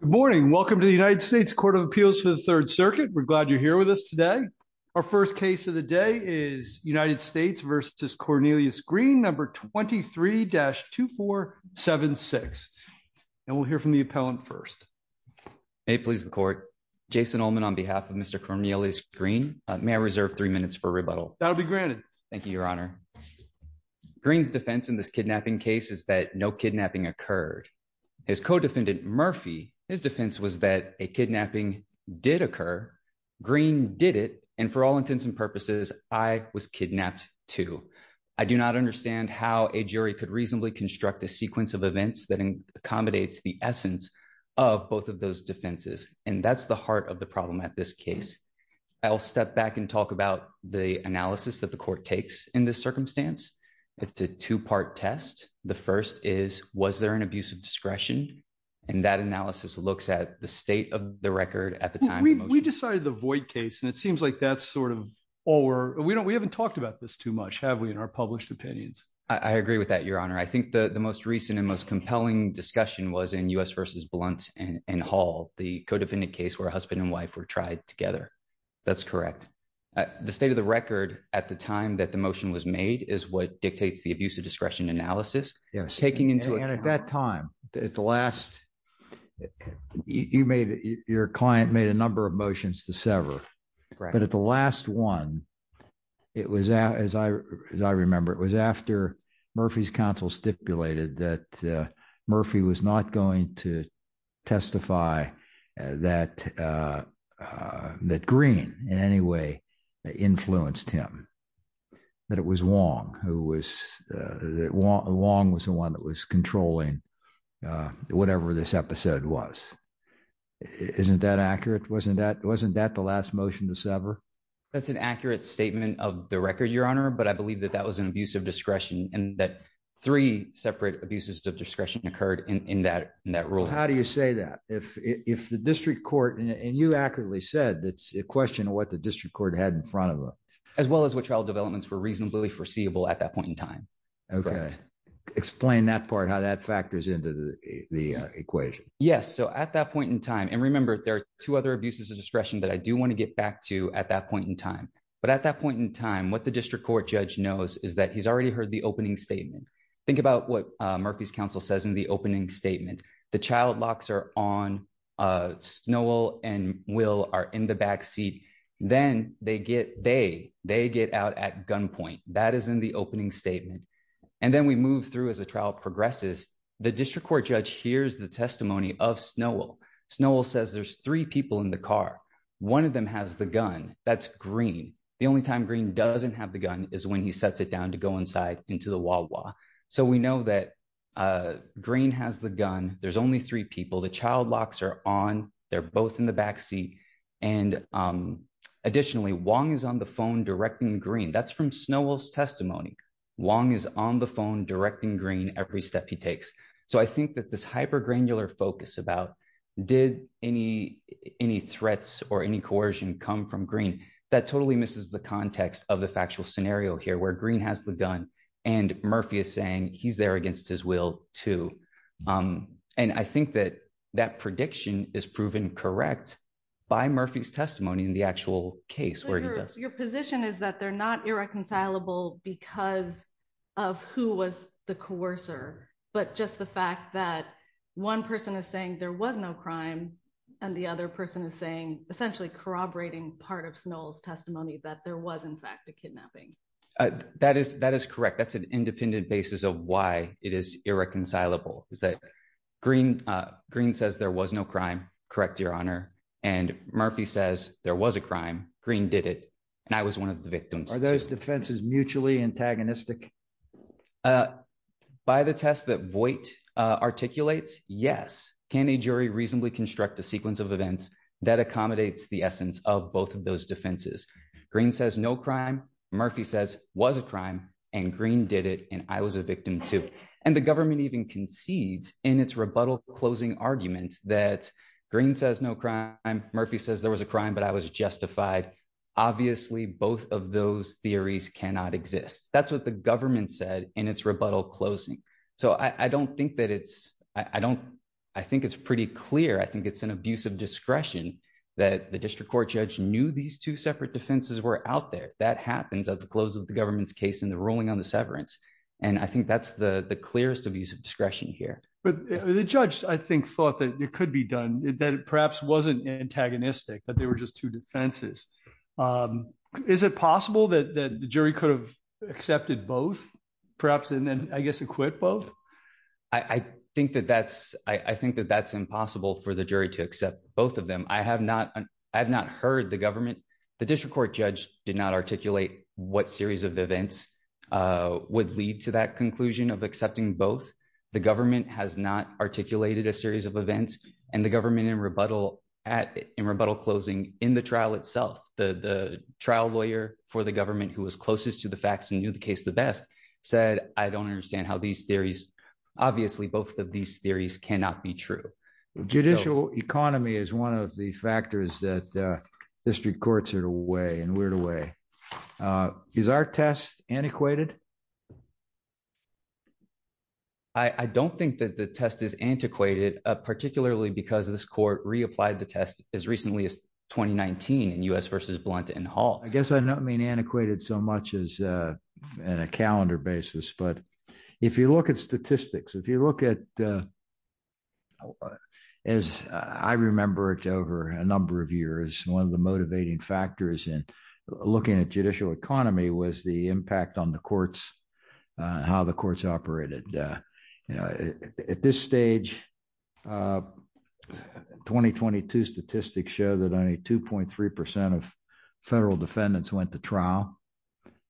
Good morning. Welcome to the United States Court of Appeals for the Third Circuit. We're glad you're here with us today. Our first case of the day is United States v. Cornelius Green No. 23-2476. And we'll hear from the appellant first. May it please the Court. Jason Ullman on behalf of Mr. Cornelius Green. May I reserve three minutes for rebuttal? That'll be granted. Thank you, Your Honor. Green's defense in this kidnapping case is that no kidnapping occurred. His co-defendant Murphy, his defense was that a kidnapping did occur. Green did it. And for all intents and purposes, I was kidnapped too. I do not understand how a jury could reasonably construct a sequence of events that accommodates the essence of both of those defenses. And that's the heart of the problem at this case. I'll step back and talk about the analysis that the court takes in this circumstance. It's a two-part test. The first is, was there an abuse of discretion? And that analysis looks at the state of the record at the time. We decided to void case and it seems like that's sort of, or we haven't talked about this too much, have we, in our published opinions? I agree with that, Your Honor. I think the most recent and most compelling discussion was in U.S. v. Blunt and Hall, the co-defendant case where husband and wife were tried together. That's correct. The state of the record at the time that the motion was made is what dictates the abuse of discretion analysis. Yes. And at that time, at the last, you made, your client made a number of motions to sever. Correct. But at the last one, it was, as I remember, it was after Murphy's counsel stipulated that Murphy was not going to testify that Green in any way influenced him, that it was Wong who was, that Wong was the one that was controlling whatever this episode was. Isn't that accurate? Wasn't that the last motion to sever? That's an accurate statement of the record, Your Honor, but I believe that that was an abuse of discretion and that three separate abuses of discretion occurred in that ruling. How do you say that? If the district court, and you accurately said, it's a question of what the district court had in front of them. As well as what trial developments were reasonably foreseeable at that point in time. Okay. Correct. Explain that part, how that factors into the equation. Yes. So at that point in time, and remember, there are two other abuses of discretion that I do want to get back to at that point in time. But at that point in time, what the district court judge knows is that he's already heard the opening statement. Think about what Murphy's counsel says in the opening statement, the child locks are on. Snow will and will are in the backseat, then they get they they get out at gunpoint, that is in the opening statement. And then we move through as a trial progresses. The district court judge hears the testimony of snow will snow will says there's three people in the car. One of them has the gun, that's green. The only time green doesn't have the gun is when he sets it down to go inside into the wall. So we know that green has the gun, there's only three people the child locks are on. They're both in the backseat. And additionally, one is on the phone directing green that's from snow was testimony. Wong is on the phone directing green every step he takes. So I think that this hyper granular focus about did any, any threats or any coercion come from green that totally misses the context of the factual scenario here where green has the gun, and not because of who was the coercer, but just the fact that one person is saying there was no crime, and the other person is saying, essentially corroborating part of snow's testimony that there was in fact a kidnapping. That is that is correct that's an independent basis of why it is irreconcilable is that green. Green says there was no crime. Correct, Your Honor, and Murphy says there was a crime green did it. And I was one of the victims are those defenses mutually antagonistic. By the test that Voight articulates, yes, can a jury reasonably construct a sequence of events that accommodates the essence of both of those defenses. Green says no crime. Murphy says was a crime and green did it and I was a victim to, and the government even concedes in its rebuttal closing arguments that green says no crime, Murphy says there was a crime but I was justified. Obviously, both of those theories cannot exist, that's what the government said, and it's rebuttal closing. So I don't think that it's, I don't. I think it's pretty clear I think it's an abuse of discretion that the district court judge knew these two separate defenses were out there that happens at the close of the government's case in the ruling on the severance. And I think that's the clearest abuse of discretion here, but the judge, I think thought that it could be done that perhaps wasn't antagonistic that they were just two defenses. Is it possible that the jury could have accepted both perhaps and then I guess acquit both. I think that that's, I think that that's impossible for the jury to accept both of them I have not. I have not heard the government, the district court judge did not articulate what series of events would lead to that conclusion of accepting both the government has not articulated a series of events, and the government in rebuttal at in rebuttal closing in the trial itself, the trial lawyer for the government who was closest to the facts and knew the case the best said, I don't understand how these theories. Obviously both of these theories cannot be true judicial economy is one of the factors that district courts are away and weird away. Is our test antiquated. I don't think that the test is antiquated, particularly because of this court reapplied the test is recently as 2019 and us versus blunt and Hall, I guess I mean antiquated so much as a calendar basis but if you look at statistics if you look at as I remember it over a number of years, one of the motivating factors and looking at judicial economy was the impact on the courts, how the courts operated. At this stage, 2022 statistics show that only 2.3% of federal defendants went to trial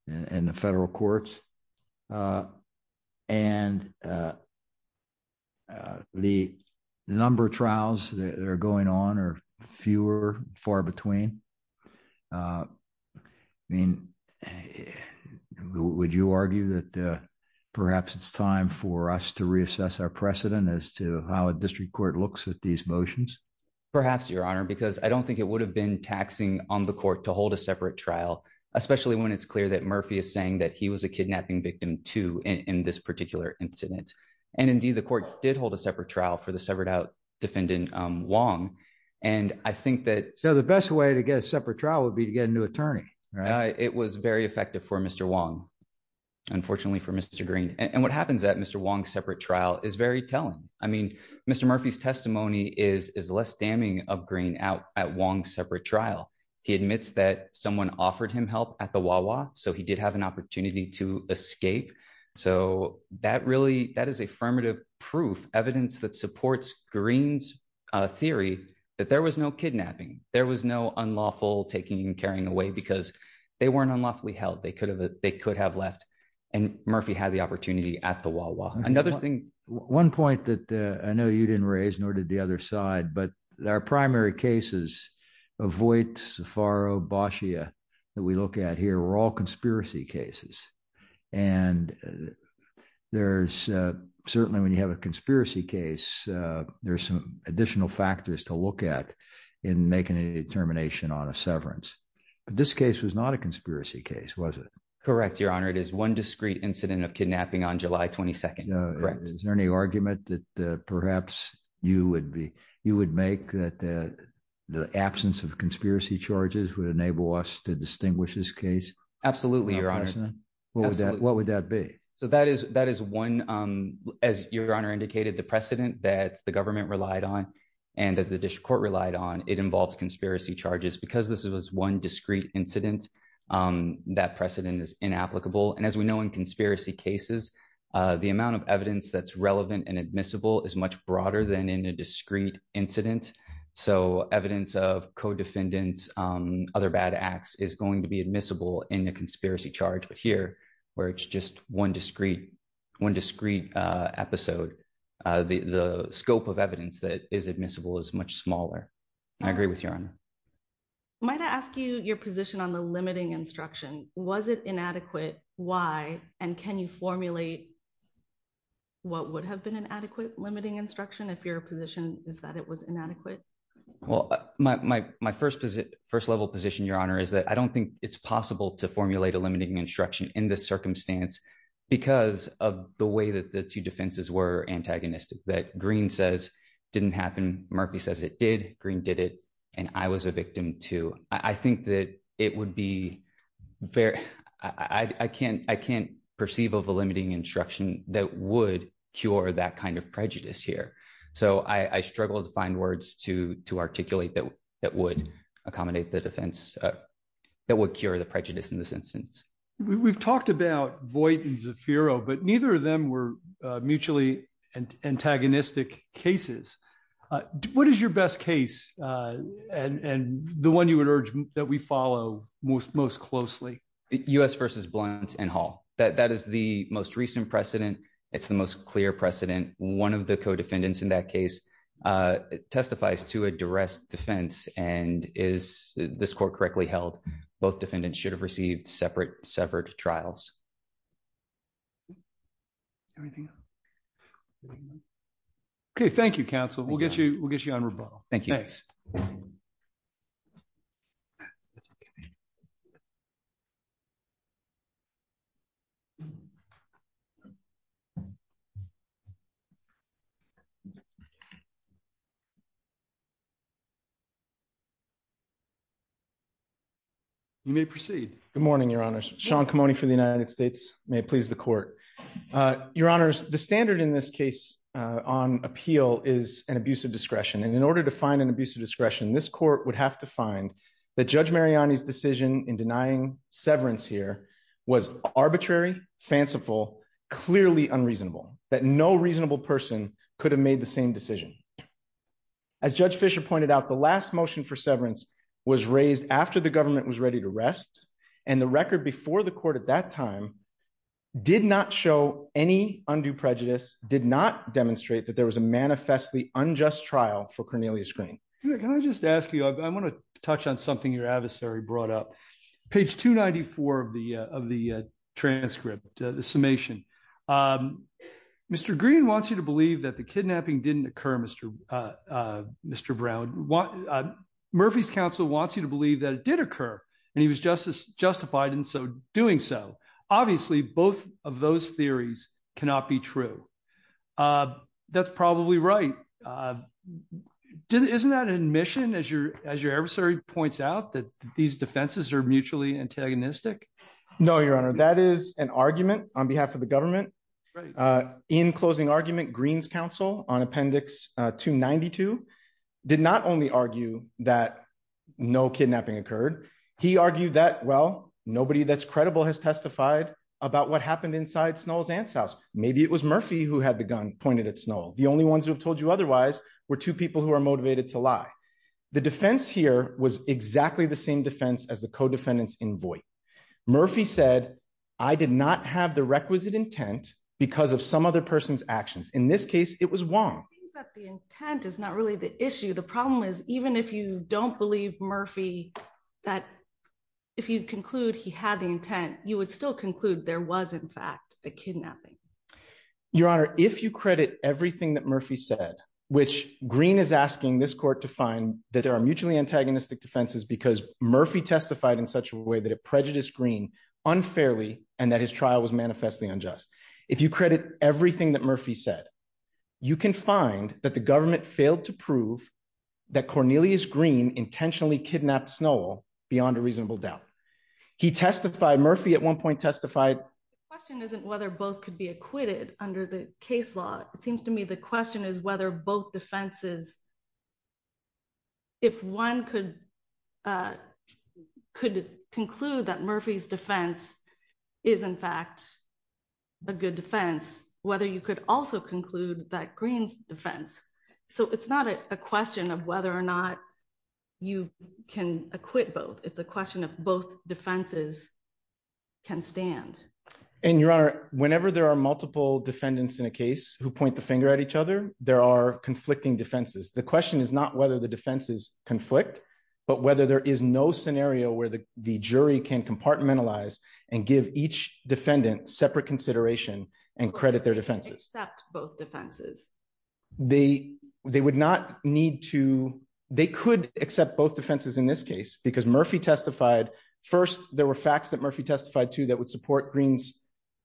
in the federal courts. And the number of trials that are going on or fewer far between. I mean, would you argue that perhaps it's time for us to reassess our precedent as to how a district court looks at these motions. Perhaps your honor because I don't think it would have been taxing on the court to hold a separate trial, especially when it's clear that Murphy is saying that he was a kidnapping victim to in this particular incident. And indeed the court did hold a separate trial for the severed out defendant long. And I think that so the best way to get a separate trial would be to get a new attorney. It was very effective for Mr Wong. Unfortunately for Mr Green, and what happens at Mr Wong separate trial is very telling. I mean, Mr Murphy's testimony is is less damning of green out at one separate trial, he admits that someone offered him help at the wall so he did have an opportunity to escape. So, that really that is affirmative proof evidence that supports greens theory that there was no kidnapping, there was no unlawful taking and carrying away because they weren't unlawfully held they could have, they could have left and we're all conspiracy cases. And there's certainly when you have a conspiracy case, there's some additional factors to look at in making a determination on a severance. This case was not a conspiracy case was it correct your honor it is one discrete incident of kidnapping on July 22. Correct. Is there any argument that perhaps you would be, you would make that the absence of conspiracy charges would enable us to distinguish this case. Absolutely, your honor. What would that be. So that is, that is one. As your honor indicated the precedent that the government relied on, and that the district court relied on it involves conspiracy charges because this was one discrete incident that precedent is inapplicable and as we know in conspiracy cases, the amount of evidence that's relevant and admissible is much broader than in a discrete incident. So, evidence of co defendants, other bad acts is going to be admissible in a conspiracy charge but here, where it's just one discrete one discrete episode, the scope of evidence that is admissible as much smaller. I agree with your honor might ask you your position on the limiting instruction, was it inadequate. Why, and can you formulate what would have been an adequate limiting instruction if your position is that it was inadequate. Well, my first visit first level position your honor is that I don't think it's possible to formulate a limiting instruction in this circumstance, because of the way that the two defenses were antagonistic that green says didn't happen, Murphy says it did green did it, and I was a victim to, I think that it would be fair. I can't, I can't perceive of a limiting instruction that would cure that kind of prejudice here. So I struggled to find words to to articulate that that would accommodate the defense. That would cure the prejudice in this instance, we've talked about Voight and Zafiro but neither of them were mutually and antagonistic cases. What is your best case, and the one you would urge that we follow most most closely us versus blunt and haul that that is the most recent precedent. It's the most clear precedent, one of the co defendants in that case, testifies to a duress defense, and is this court correctly held both defendants should have received separate separate trials. Everything. Okay, thank you, Council, we'll get you, we'll get you on rebuttal. Thank you. Thanks. That's okay. Thank you. You may proceed. Good morning, Your Honor, Sean come on for the United States may please the court. Your Honors, the standard in this case on appeal is an abuse of discretion and in order to find an abuse of discretion this court would have to find the judge Mariani his decision in denying severance here was arbitrary fanciful clearly unreasonable that no reasonable person could have made the same decision. As Judge Fisher pointed out the last motion for severance was raised after the government was ready to rest, and the record before the court at that time, did not show any undue prejudice did not demonstrate that there was a manifestly unjust trial for Cornelius Can I just ask you, I want to touch on something your adversary brought up page 294 of the of the transcript, the summation. Mr. Green wants you to believe that the kidnapping didn't occur Mr. Mr. Brown, what Murphy's counsel wants you to believe that it did occur, and he was just as justified and so doing so. Obviously, both of those theories cannot be true. That's probably right. Didn't isn't that an admission as your, as your adversary points out that these defenses are mutually antagonistic. No, Your Honor, that is an argument on behalf of the government. In closing argument Greens counsel on appendix to 92 did not only argue that no kidnapping occurred. He argued that well, nobody that's credible has testified about what happened inside snow's aunt's house, maybe it was Murphy who had the gun pointed at snow, the only ones who have told you otherwise, were two people who are motivated to lie. The defense here was exactly the same defense as the co defendants in voice. Murphy said, I did not have the requisite intent, because of some other person's actions in this case, it was wrong. The intent is not really the issue. The problem is, even if you don't believe Murphy, that if you conclude he had the intent, you would still conclude there was in fact a kidnapping. Your Honor, if you credit everything that Murphy said, which green is asking this court to find that there are mutually antagonistic defenses because Murphy testified in such a way that it prejudice green unfairly, and that his trial was manifestly unjust. If you credit everything that Murphy said, you can find that the government failed to prove that Cornelius green intentionally kidnapped snow beyond a reasonable doubt. He testified Murphy at one point testified question isn't whether both could be acquitted under the case law, it seems to me the question is whether both defenses. If one could, could conclude that Murphy's defense is in fact a good defense, whether you could also conclude that greens defense. So it's not a question of whether or not you can acquit both it's a question of both defenses can stand. And you are whenever there are multiple defendants in a case who point the finger at each other, there are conflicting defenses. The question is not whether the defenses conflict, but whether there is no scenario where the jury can compartmentalize and give each defendant separate consideration and credit their defenses, both defenses, they, they would not need to, they could accept both defenses in this case because Murphy testified. First, there were facts that Murphy testified to that would support greens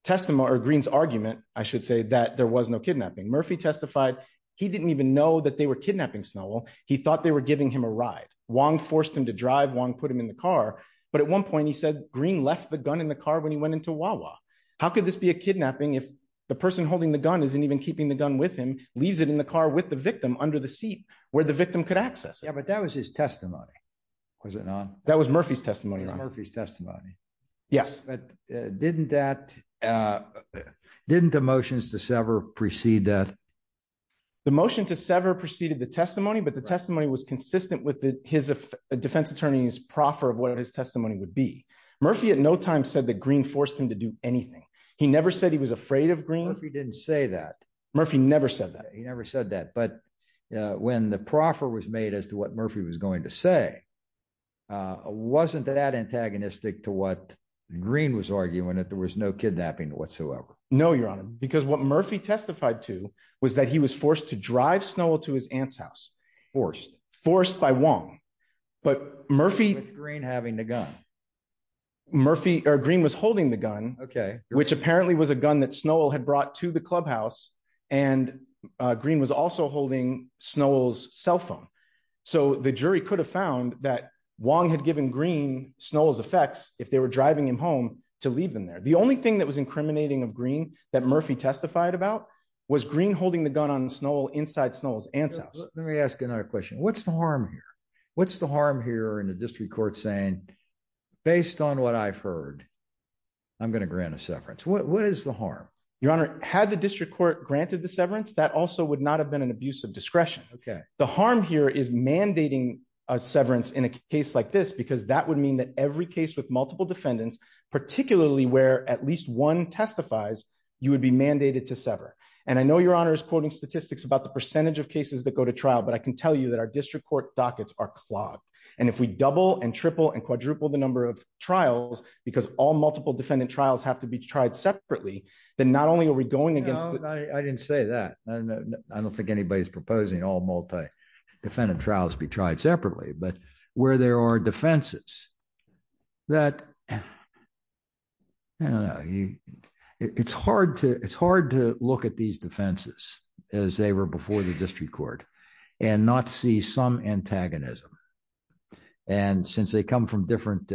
testimony or greens argument, I should say that there was no kidnapping Murphy testified. He didn't even know that they were kidnapping snow. He thought they were giving him a ride, one forced him to drive one put him in the car, but at one point he said green left the gun in the car when he went into Wawa. How could this be a kidnapping if the person holding the gun isn't even keeping the gun with him, leaves it in the car with the victim under the seat where the victim could access yeah but that was his testimony. Was it not, that was Murphy's testimony Murphy's testimony. Yes. Didn't that didn't emotions to sever precede that the motion to sever preceded the testimony but the testimony was consistent with his defense attorneys proffer of what his testimony would be Murphy at no time said that green forced him to do anything. He never said he was afraid of green if he didn't say that Murphy never said that he never said that but when the proffer was made as to what Murphy was going to say wasn't that antagonistic to what green was arguing that there was no kidnapping whatsoever. No, Your Honor, because what Murphy testified to was that he was forced to drive snow to his aunt's house forced forced by one, but Murphy green having the gun. Murphy or green was holding the gun, okay, which apparently was a gun that snow had brought to the clubhouse and green was also holding snow's cell phone. So the jury could have found that long had given green snow's effects, if they were driving him home to leave them there the only thing that was incriminating of green that Murphy testified about was green holding the gun on snow inside snow's answer. Let me ask another question, what's the harm here. What's the harm here in the district court saying, based on what I've heard. I'm going to grant a severance What is the harm, Your Honor, had the district court granted the severance that also would not have been an abuse of discretion. Okay, the harm here is mandating a severance in a case like this because that would mean that every case with multiple defendants, particularly where at least one testifies, you would be mandated to sever. And I know Your Honor is quoting statistics about the percentage of cases that go to trial but I can tell you that our district court dockets are clogged. And if we double and triple and quadruple the number of trials, because all multiple defendant trials have to be tried separately, then not only are we going against. I didn't say that. I don't think anybody's proposing all multi defendant trials be tried separately but where there are defenses that. It's hard to it's hard to look at these defenses, as they were before the district court and not see some antagonism. And since they come from different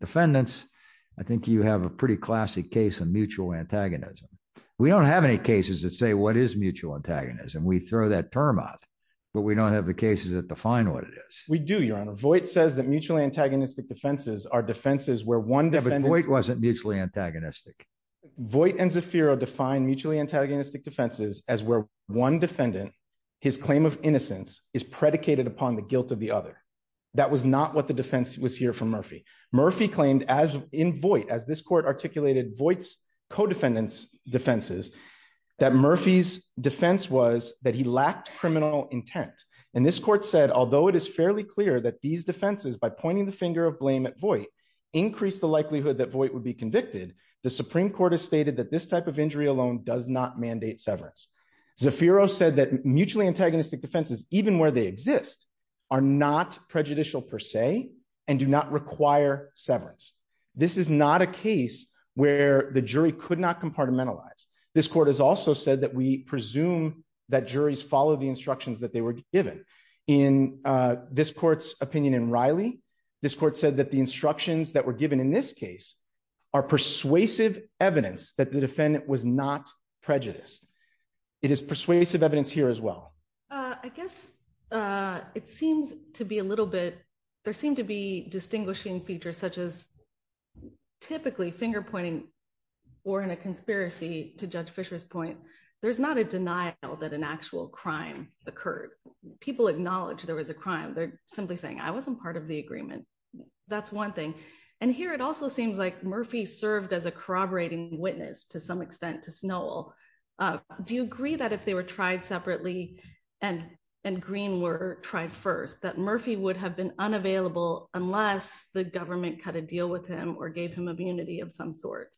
defendants. I think you have a pretty classic case of mutual antagonism. We don't have any cases that say what is mutual antagonism we throw that term out, but we don't have the cases that define what it is, we do Your Honor Voight says that mutually antagonistic defenses are defenses where one didn't wait wasn't mutually antagonistic Voight and Zafiro define mutually antagonistic defenses, as where one defendant. His claim of innocence is predicated upon the guilt of the other. That was not what the defense was here from Murphy Murphy claimed as in Voight as this court articulated Voight's co defendants defenses that Murphy's defense was that he lacked criminal intent. And this court said although it is fairly clear that these defenses by pointing the finger of blame at Voight increase the likelihood that Voight would be convicted, the Supreme Court has stated that this type of injury alone does not mandate severance Zafiro said that mutually antagonistic defenses, even where they exist are not prejudicial per se, and do not require severance. This is not a case where the jury could not compartmentalize this court has also said that we presume that juries follow the instructions that they were given in this court's opinion and Riley. This court said that the instructions that were given in this case are persuasive evidence that the defendant was not prejudiced. It is persuasive evidence here as well. I guess it seems to be a little bit. There seem to be distinguishing features such as typically finger pointing or in a conspiracy to judge Fisher's point. There's not a denial that an actual crime occurred, people acknowledge there was a crime they're simply saying I wasn't part of the agreement. That's one thing. And here it also seems like Murphy served as a corroborating witness to some extent to snow. Do you agree that if they were tried separately and and green were tried first that Murphy would have been unavailable, unless the government cut a deal with him or gave him immunity of some sort.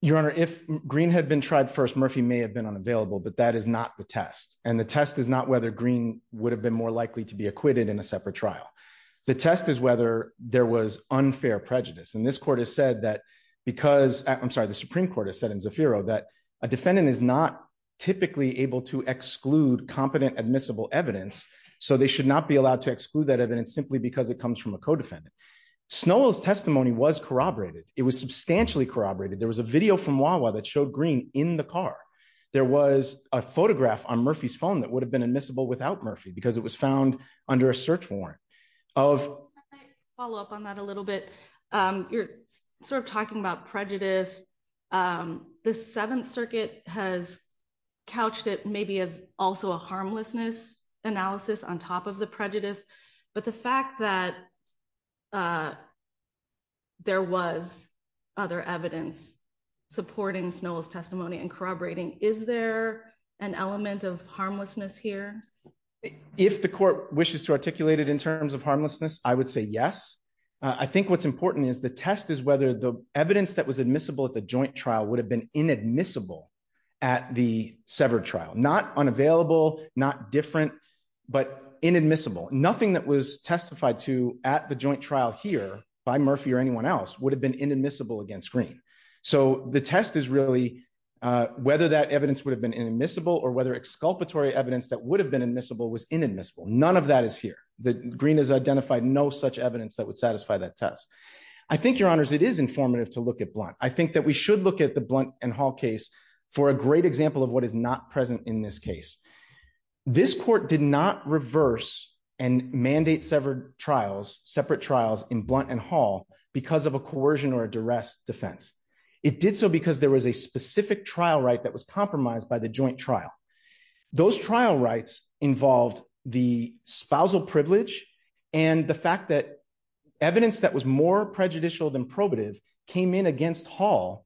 Your Honor, if green had been tried first Murphy may have been unavailable but that is not the test, and the test is not whether green would have been more likely to be acquitted in a separate trial. The test is whether there was unfair prejudice and this court has said that, because I'm sorry the Supreme Court has said in zero that a defendant is not typically able to exclude competent admissible evidence, so they should not be allowed to exclude that evidence simply because it comes from a co defendant snow's testimony was corroborated, it was substantially corroborated there was a video from while while that showed green in the car. There was a photograph on Murphy's phone that would have been admissible without Murphy because it was found under a search warrant of follow up on that a little bit. You're sort of talking about prejudice. The Seventh Circuit has couched it maybe as also a harmlessness analysis on top of the prejudice, but the fact that there was other evidence supporting snow's testimony and corroborating, is there an element of harmlessness here. If the court wishes to articulated in terms of harmlessness, I would say yes. I think what's important is the test is whether the evidence that was admissible at the joint trial would have been inadmissible at the severed trial not unavailable, not different, but inadmissible nothing that was testified to at the joint trial here by Murphy or anyone else would have been inadmissible against green. So the test is really whether that evidence would have been inadmissible or whether exculpatory evidence that would have been admissible was inadmissible none of that is here, the green is identified no such evidence that would satisfy that test. I think your honors it is informative to look at blunt I think that we should look at the blunt and Hall case for a great example of what is not present in this case. This court did not reverse and mandate severed trials separate trials in blunt and Hall, because of a coercion or a duress defense. It did so because there was a specific trial right that was compromised by the joint trial. Those trial rights involved the spousal privilege, and the fact that evidence that was more prejudicial than probative came in against Hall,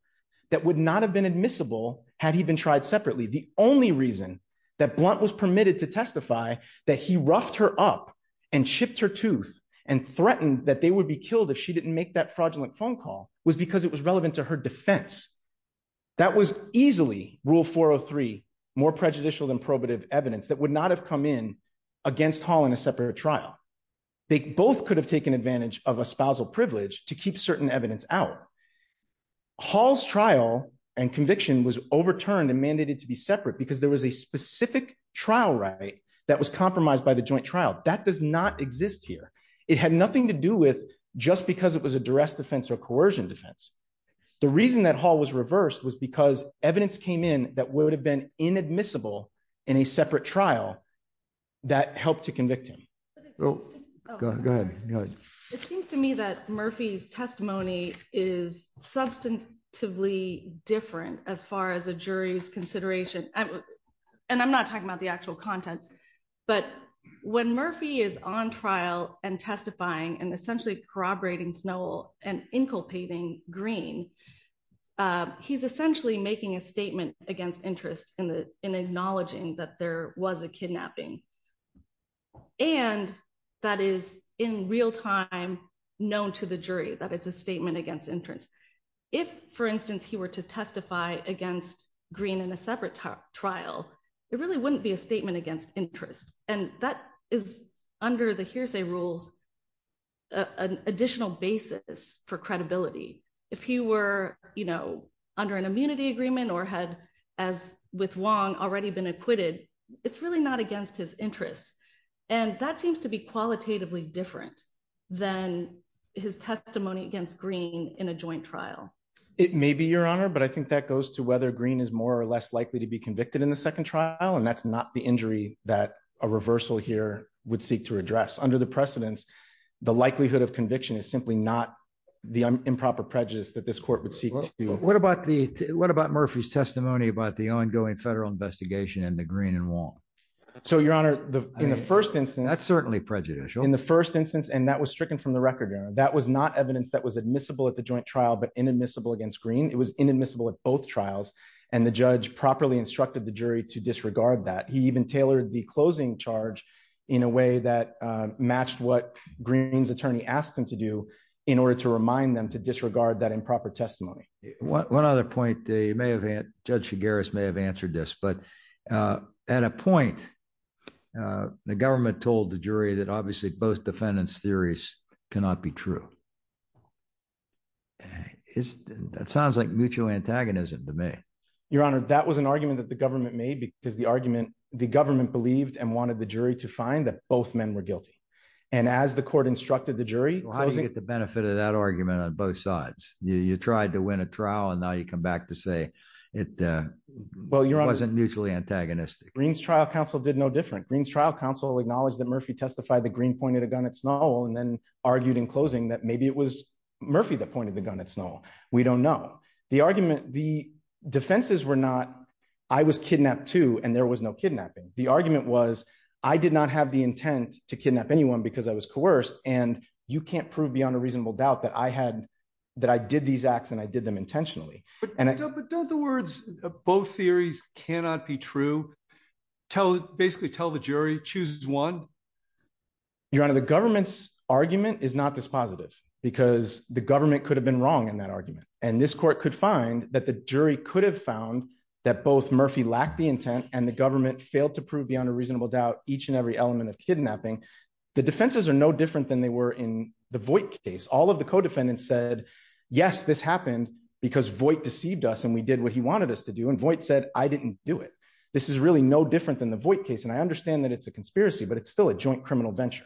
that would not have been admissible had he been tried separately the only reason that blunt was permitted to testify that he roughed her up and chipped her tooth and threatened that they would be killed if she didn't make that fraudulent phone call was because it was relevant to her defense. That was easily rule 403 more prejudicial than probative evidence that would not have come in against Holland a separate trial. They both could have taken advantage of a spousal privilege to keep certain evidence our halls trial and conviction was overturned and mandated to be separate because there was a specific trial right that was compromised by the joint trial that does not exist here. It had nothing to do with just because it was a duress defense or coercion defense. The reason that Hall was reversed was because evidence came in, that would have been inadmissible in a separate trial that helped to convict him. Oh, good. It seems to me that Murphy's testimony is substantively different as far as a jury's consideration. And I'm not talking about the actual content. But when Murphy is on trial and testifying and essentially corroborating snow and inculcating green. He's essentially making a statement against interest in the in acknowledging that there was a kidnapping. And that is in real time, known to the jury that it's a statement against interest. If, for instance, he were to testify against green in a separate trial. It really wouldn't be a statement against interest, and that is under the hearsay rules, an additional basis for credibility. If he were, you know, under an immunity agreement or had, as with long already been acquitted. It's really not against his interests. And that seems to be qualitatively different than his testimony against green in a joint trial. It may be your honor but I think that goes to whether green is more or less likely to be convicted in the second trial and that's not the injury that a reversal here would seek to address under the precedents. The likelihood of conviction is simply not the improper prejudice that this court would see. What about the. What about Murphy's testimony about the ongoing federal investigation and the green and wall. So your honor, the first instance that's certainly prejudicial in the first instance and that was stricken from the record that was not evidence that was admissible at the joint trial but inadmissible against green it was inadmissible at both trials, and the judge properly instructed the jury to disregard that he even tailored the closing charge in a way that matched what greens attorney asked him to do in order to remind them to disregard that improper testimony. One other point they may have had, Judge cigars may have answered this but at a point. The government told the jury that obviously both defendants theories cannot be true. Is that sounds like mutual antagonism to me. Your Honor, that was an argument that the government made because the argument, the government believed and wanted the jury to find that both men were guilty. And as the court instructed the jury, how do you get the benefit of that argument on both sides, you tried to win a trial and now you come back to say it. Well, your wasn't mutually antagonistic greens trial counsel did no different greens trial counsel acknowledge that Murphy testified the green pointed a gun at snow and then argued in closing that maybe it was Murphy that pointed the gun at snow. We don't know the argument the defenses were not. I was kidnapped too and there was no kidnapping, the argument was, I did not have the intent to kidnap anyone because I was coerced and you can't prove beyond a reasonable doubt that I had that I did these acts and I did them intentionally, and I don't the words, both theories cannot be true. Tell basically tell the jury chooses one. Your Honor, the government's argument is not this positive, because the government could have been wrong in that argument, and this court could find that the jury could have found that both Murphy lack the intent and the government failed to prove beyond a reasonable doubt that I was coerced to do and void said, I didn't do it. This is really no different than the void case and I understand that it's a conspiracy but it's still a joint criminal venture.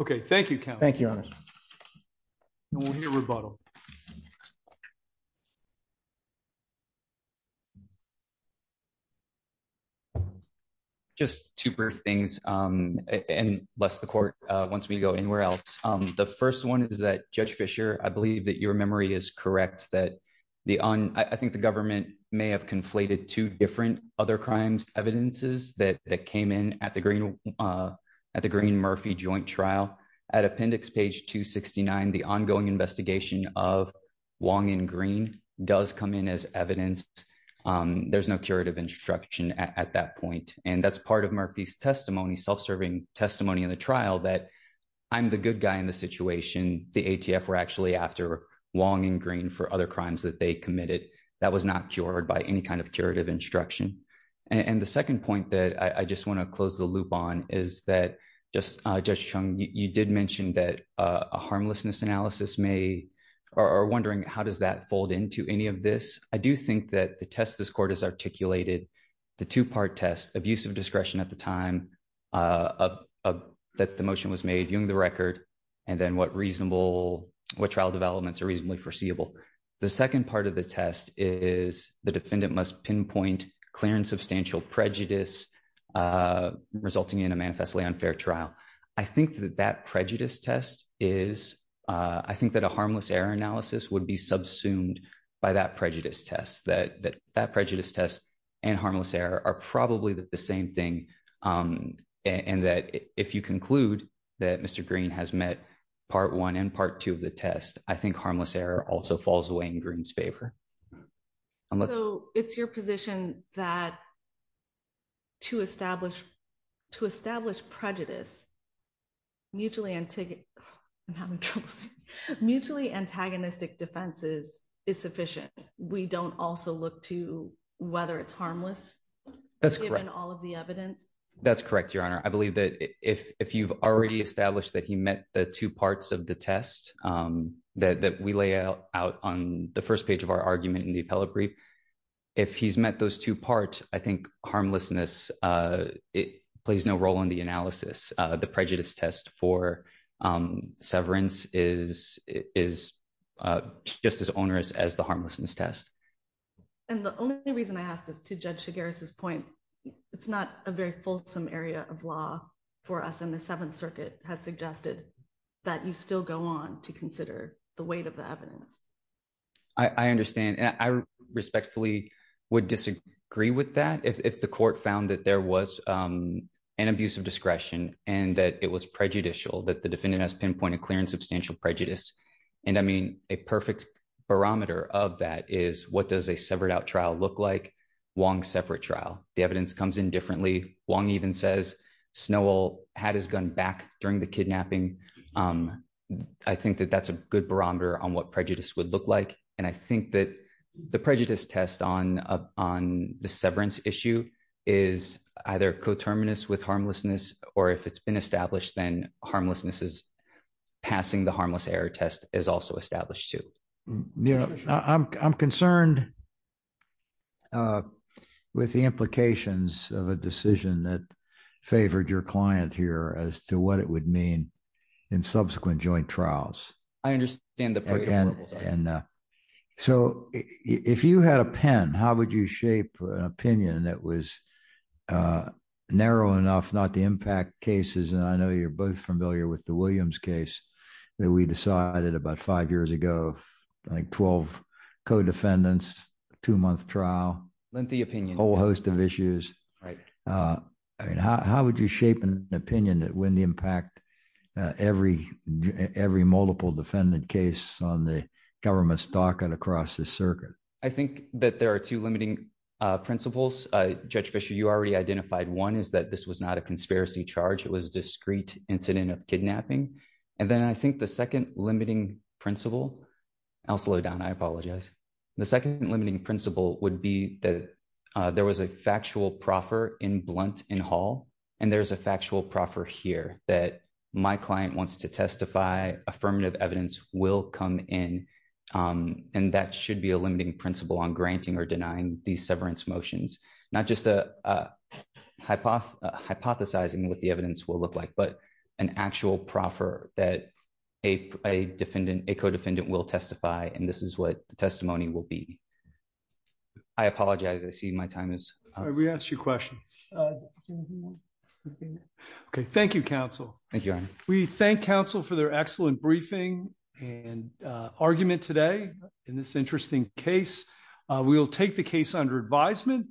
Okay, thank you. Thank you. Rebuttal. Just two things. And less the court. Once we go anywhere else. The first one is that Judge Fisher, I believe that your memory is correct that the on, I think the government may have conflated two different other crimes evidences that came in at the green at the green Murphy joint trial at appendix page 269 the ongoing investigation of long and green does come in as evidence. There's no curative instruction at that point, and that's part of Murphy's testimony self serving testimony in the trial that I'm the good guy in the situation, the ATF were actually after long and green for other crimes that they committed that was not you did mention that a harmlessness analysis may are wondering how does that fold into any of this, I do think that the test this court is articulated the two part test abusive discretion at the time of that the motion was made during the record. And then what reasonable what trial developments are reasonably foreseeable. The second part of the test is the defendant must pinpoint clearance substantial prejudice, resulting in a manifestly unfair trial. I think that that prejudice test is, I think that a harmless error analysis would be subsumed by that prejudice test that that that prejudice test and harmless error are probably the same thing. And that if you conclude that Mr. Green has met part one and part two of the test, I think harmless error also falls away in green's favor. Unless it's your position that to establish to establish prejudice, mutually and ticket. Mutually antagonistic defenses is sufficient. We don't also look to whether it's harmless. That's correct and all of the evidence. That's correct, Your Honor, I believe that if you've already established that he met the two parts of the test that we lay out on the first page of our argument in the appellate brief. If he's met those two parts, I think, harmlessness. It plays no role in the analysis, the prejudice test for severance is, is just as onerous as the harmlessness test. And the only reason I asked is to judge to Gary's his point. It's not a very fulsome area of law for us in the Seventh Circuit has suggested that you still go on to consider the weight of the evidence. I understand and I respectfully would disagree with that if the court found that there was an abuse of discretion, and that it was prejudicial that the defendant has pinpointed clear and substantial prejudice. And I mean, a perfect barometer of that is what does a severed out trial look like one separate trial, the evidence comes in differently, one even says snow all had his gun back during the kidnapping. I think that that's a good barometer on what prejudice would look like. And I think that the prejudice test on up on the severance issue is either co terminus with harmlessness, or if it's been established then harmlessness is passing the harmless error test is also established to, you know, I'm concerned with the implications of a decision that favored your client here as to what it would mean in subsequent joint trials. I understand that. And so, if you had a pen, how would you shape an opinion that was narrow enough not to impact cases and I know you're both familiar with the Williams case that we decided about five years ago, like 12 co defendants, two month trial, a whole host of issues. Right. How would you shape an opinion that when the impact every, every multiple defendant case on the government stock and across the circuit. I think that there are two limiting principles, Judge Fisher you already identified one is that this was not a conspiracy charge it was discrete incident of kidnapping. And then I think the second limiting principle. I'll slow down I apologize. The second limiting principle would be that there was a factual proffer in blunt in Hall, and there's a factual proffer here that my client wants to testify affirmative evidence will come in. And that should be a limiting principle on granting or denying the severance motions, not just a hypothesis, hypothesizing what the evidence will look like but an actual proffer that a defendant a co defendant will testify and this is what the testimony will be. I apologize I see my time is we asked you questions. Okay, thank you counsel. Thank you. We thank counsel for their excellent briefing and argument today in this interesting case, we will take the case under advisement.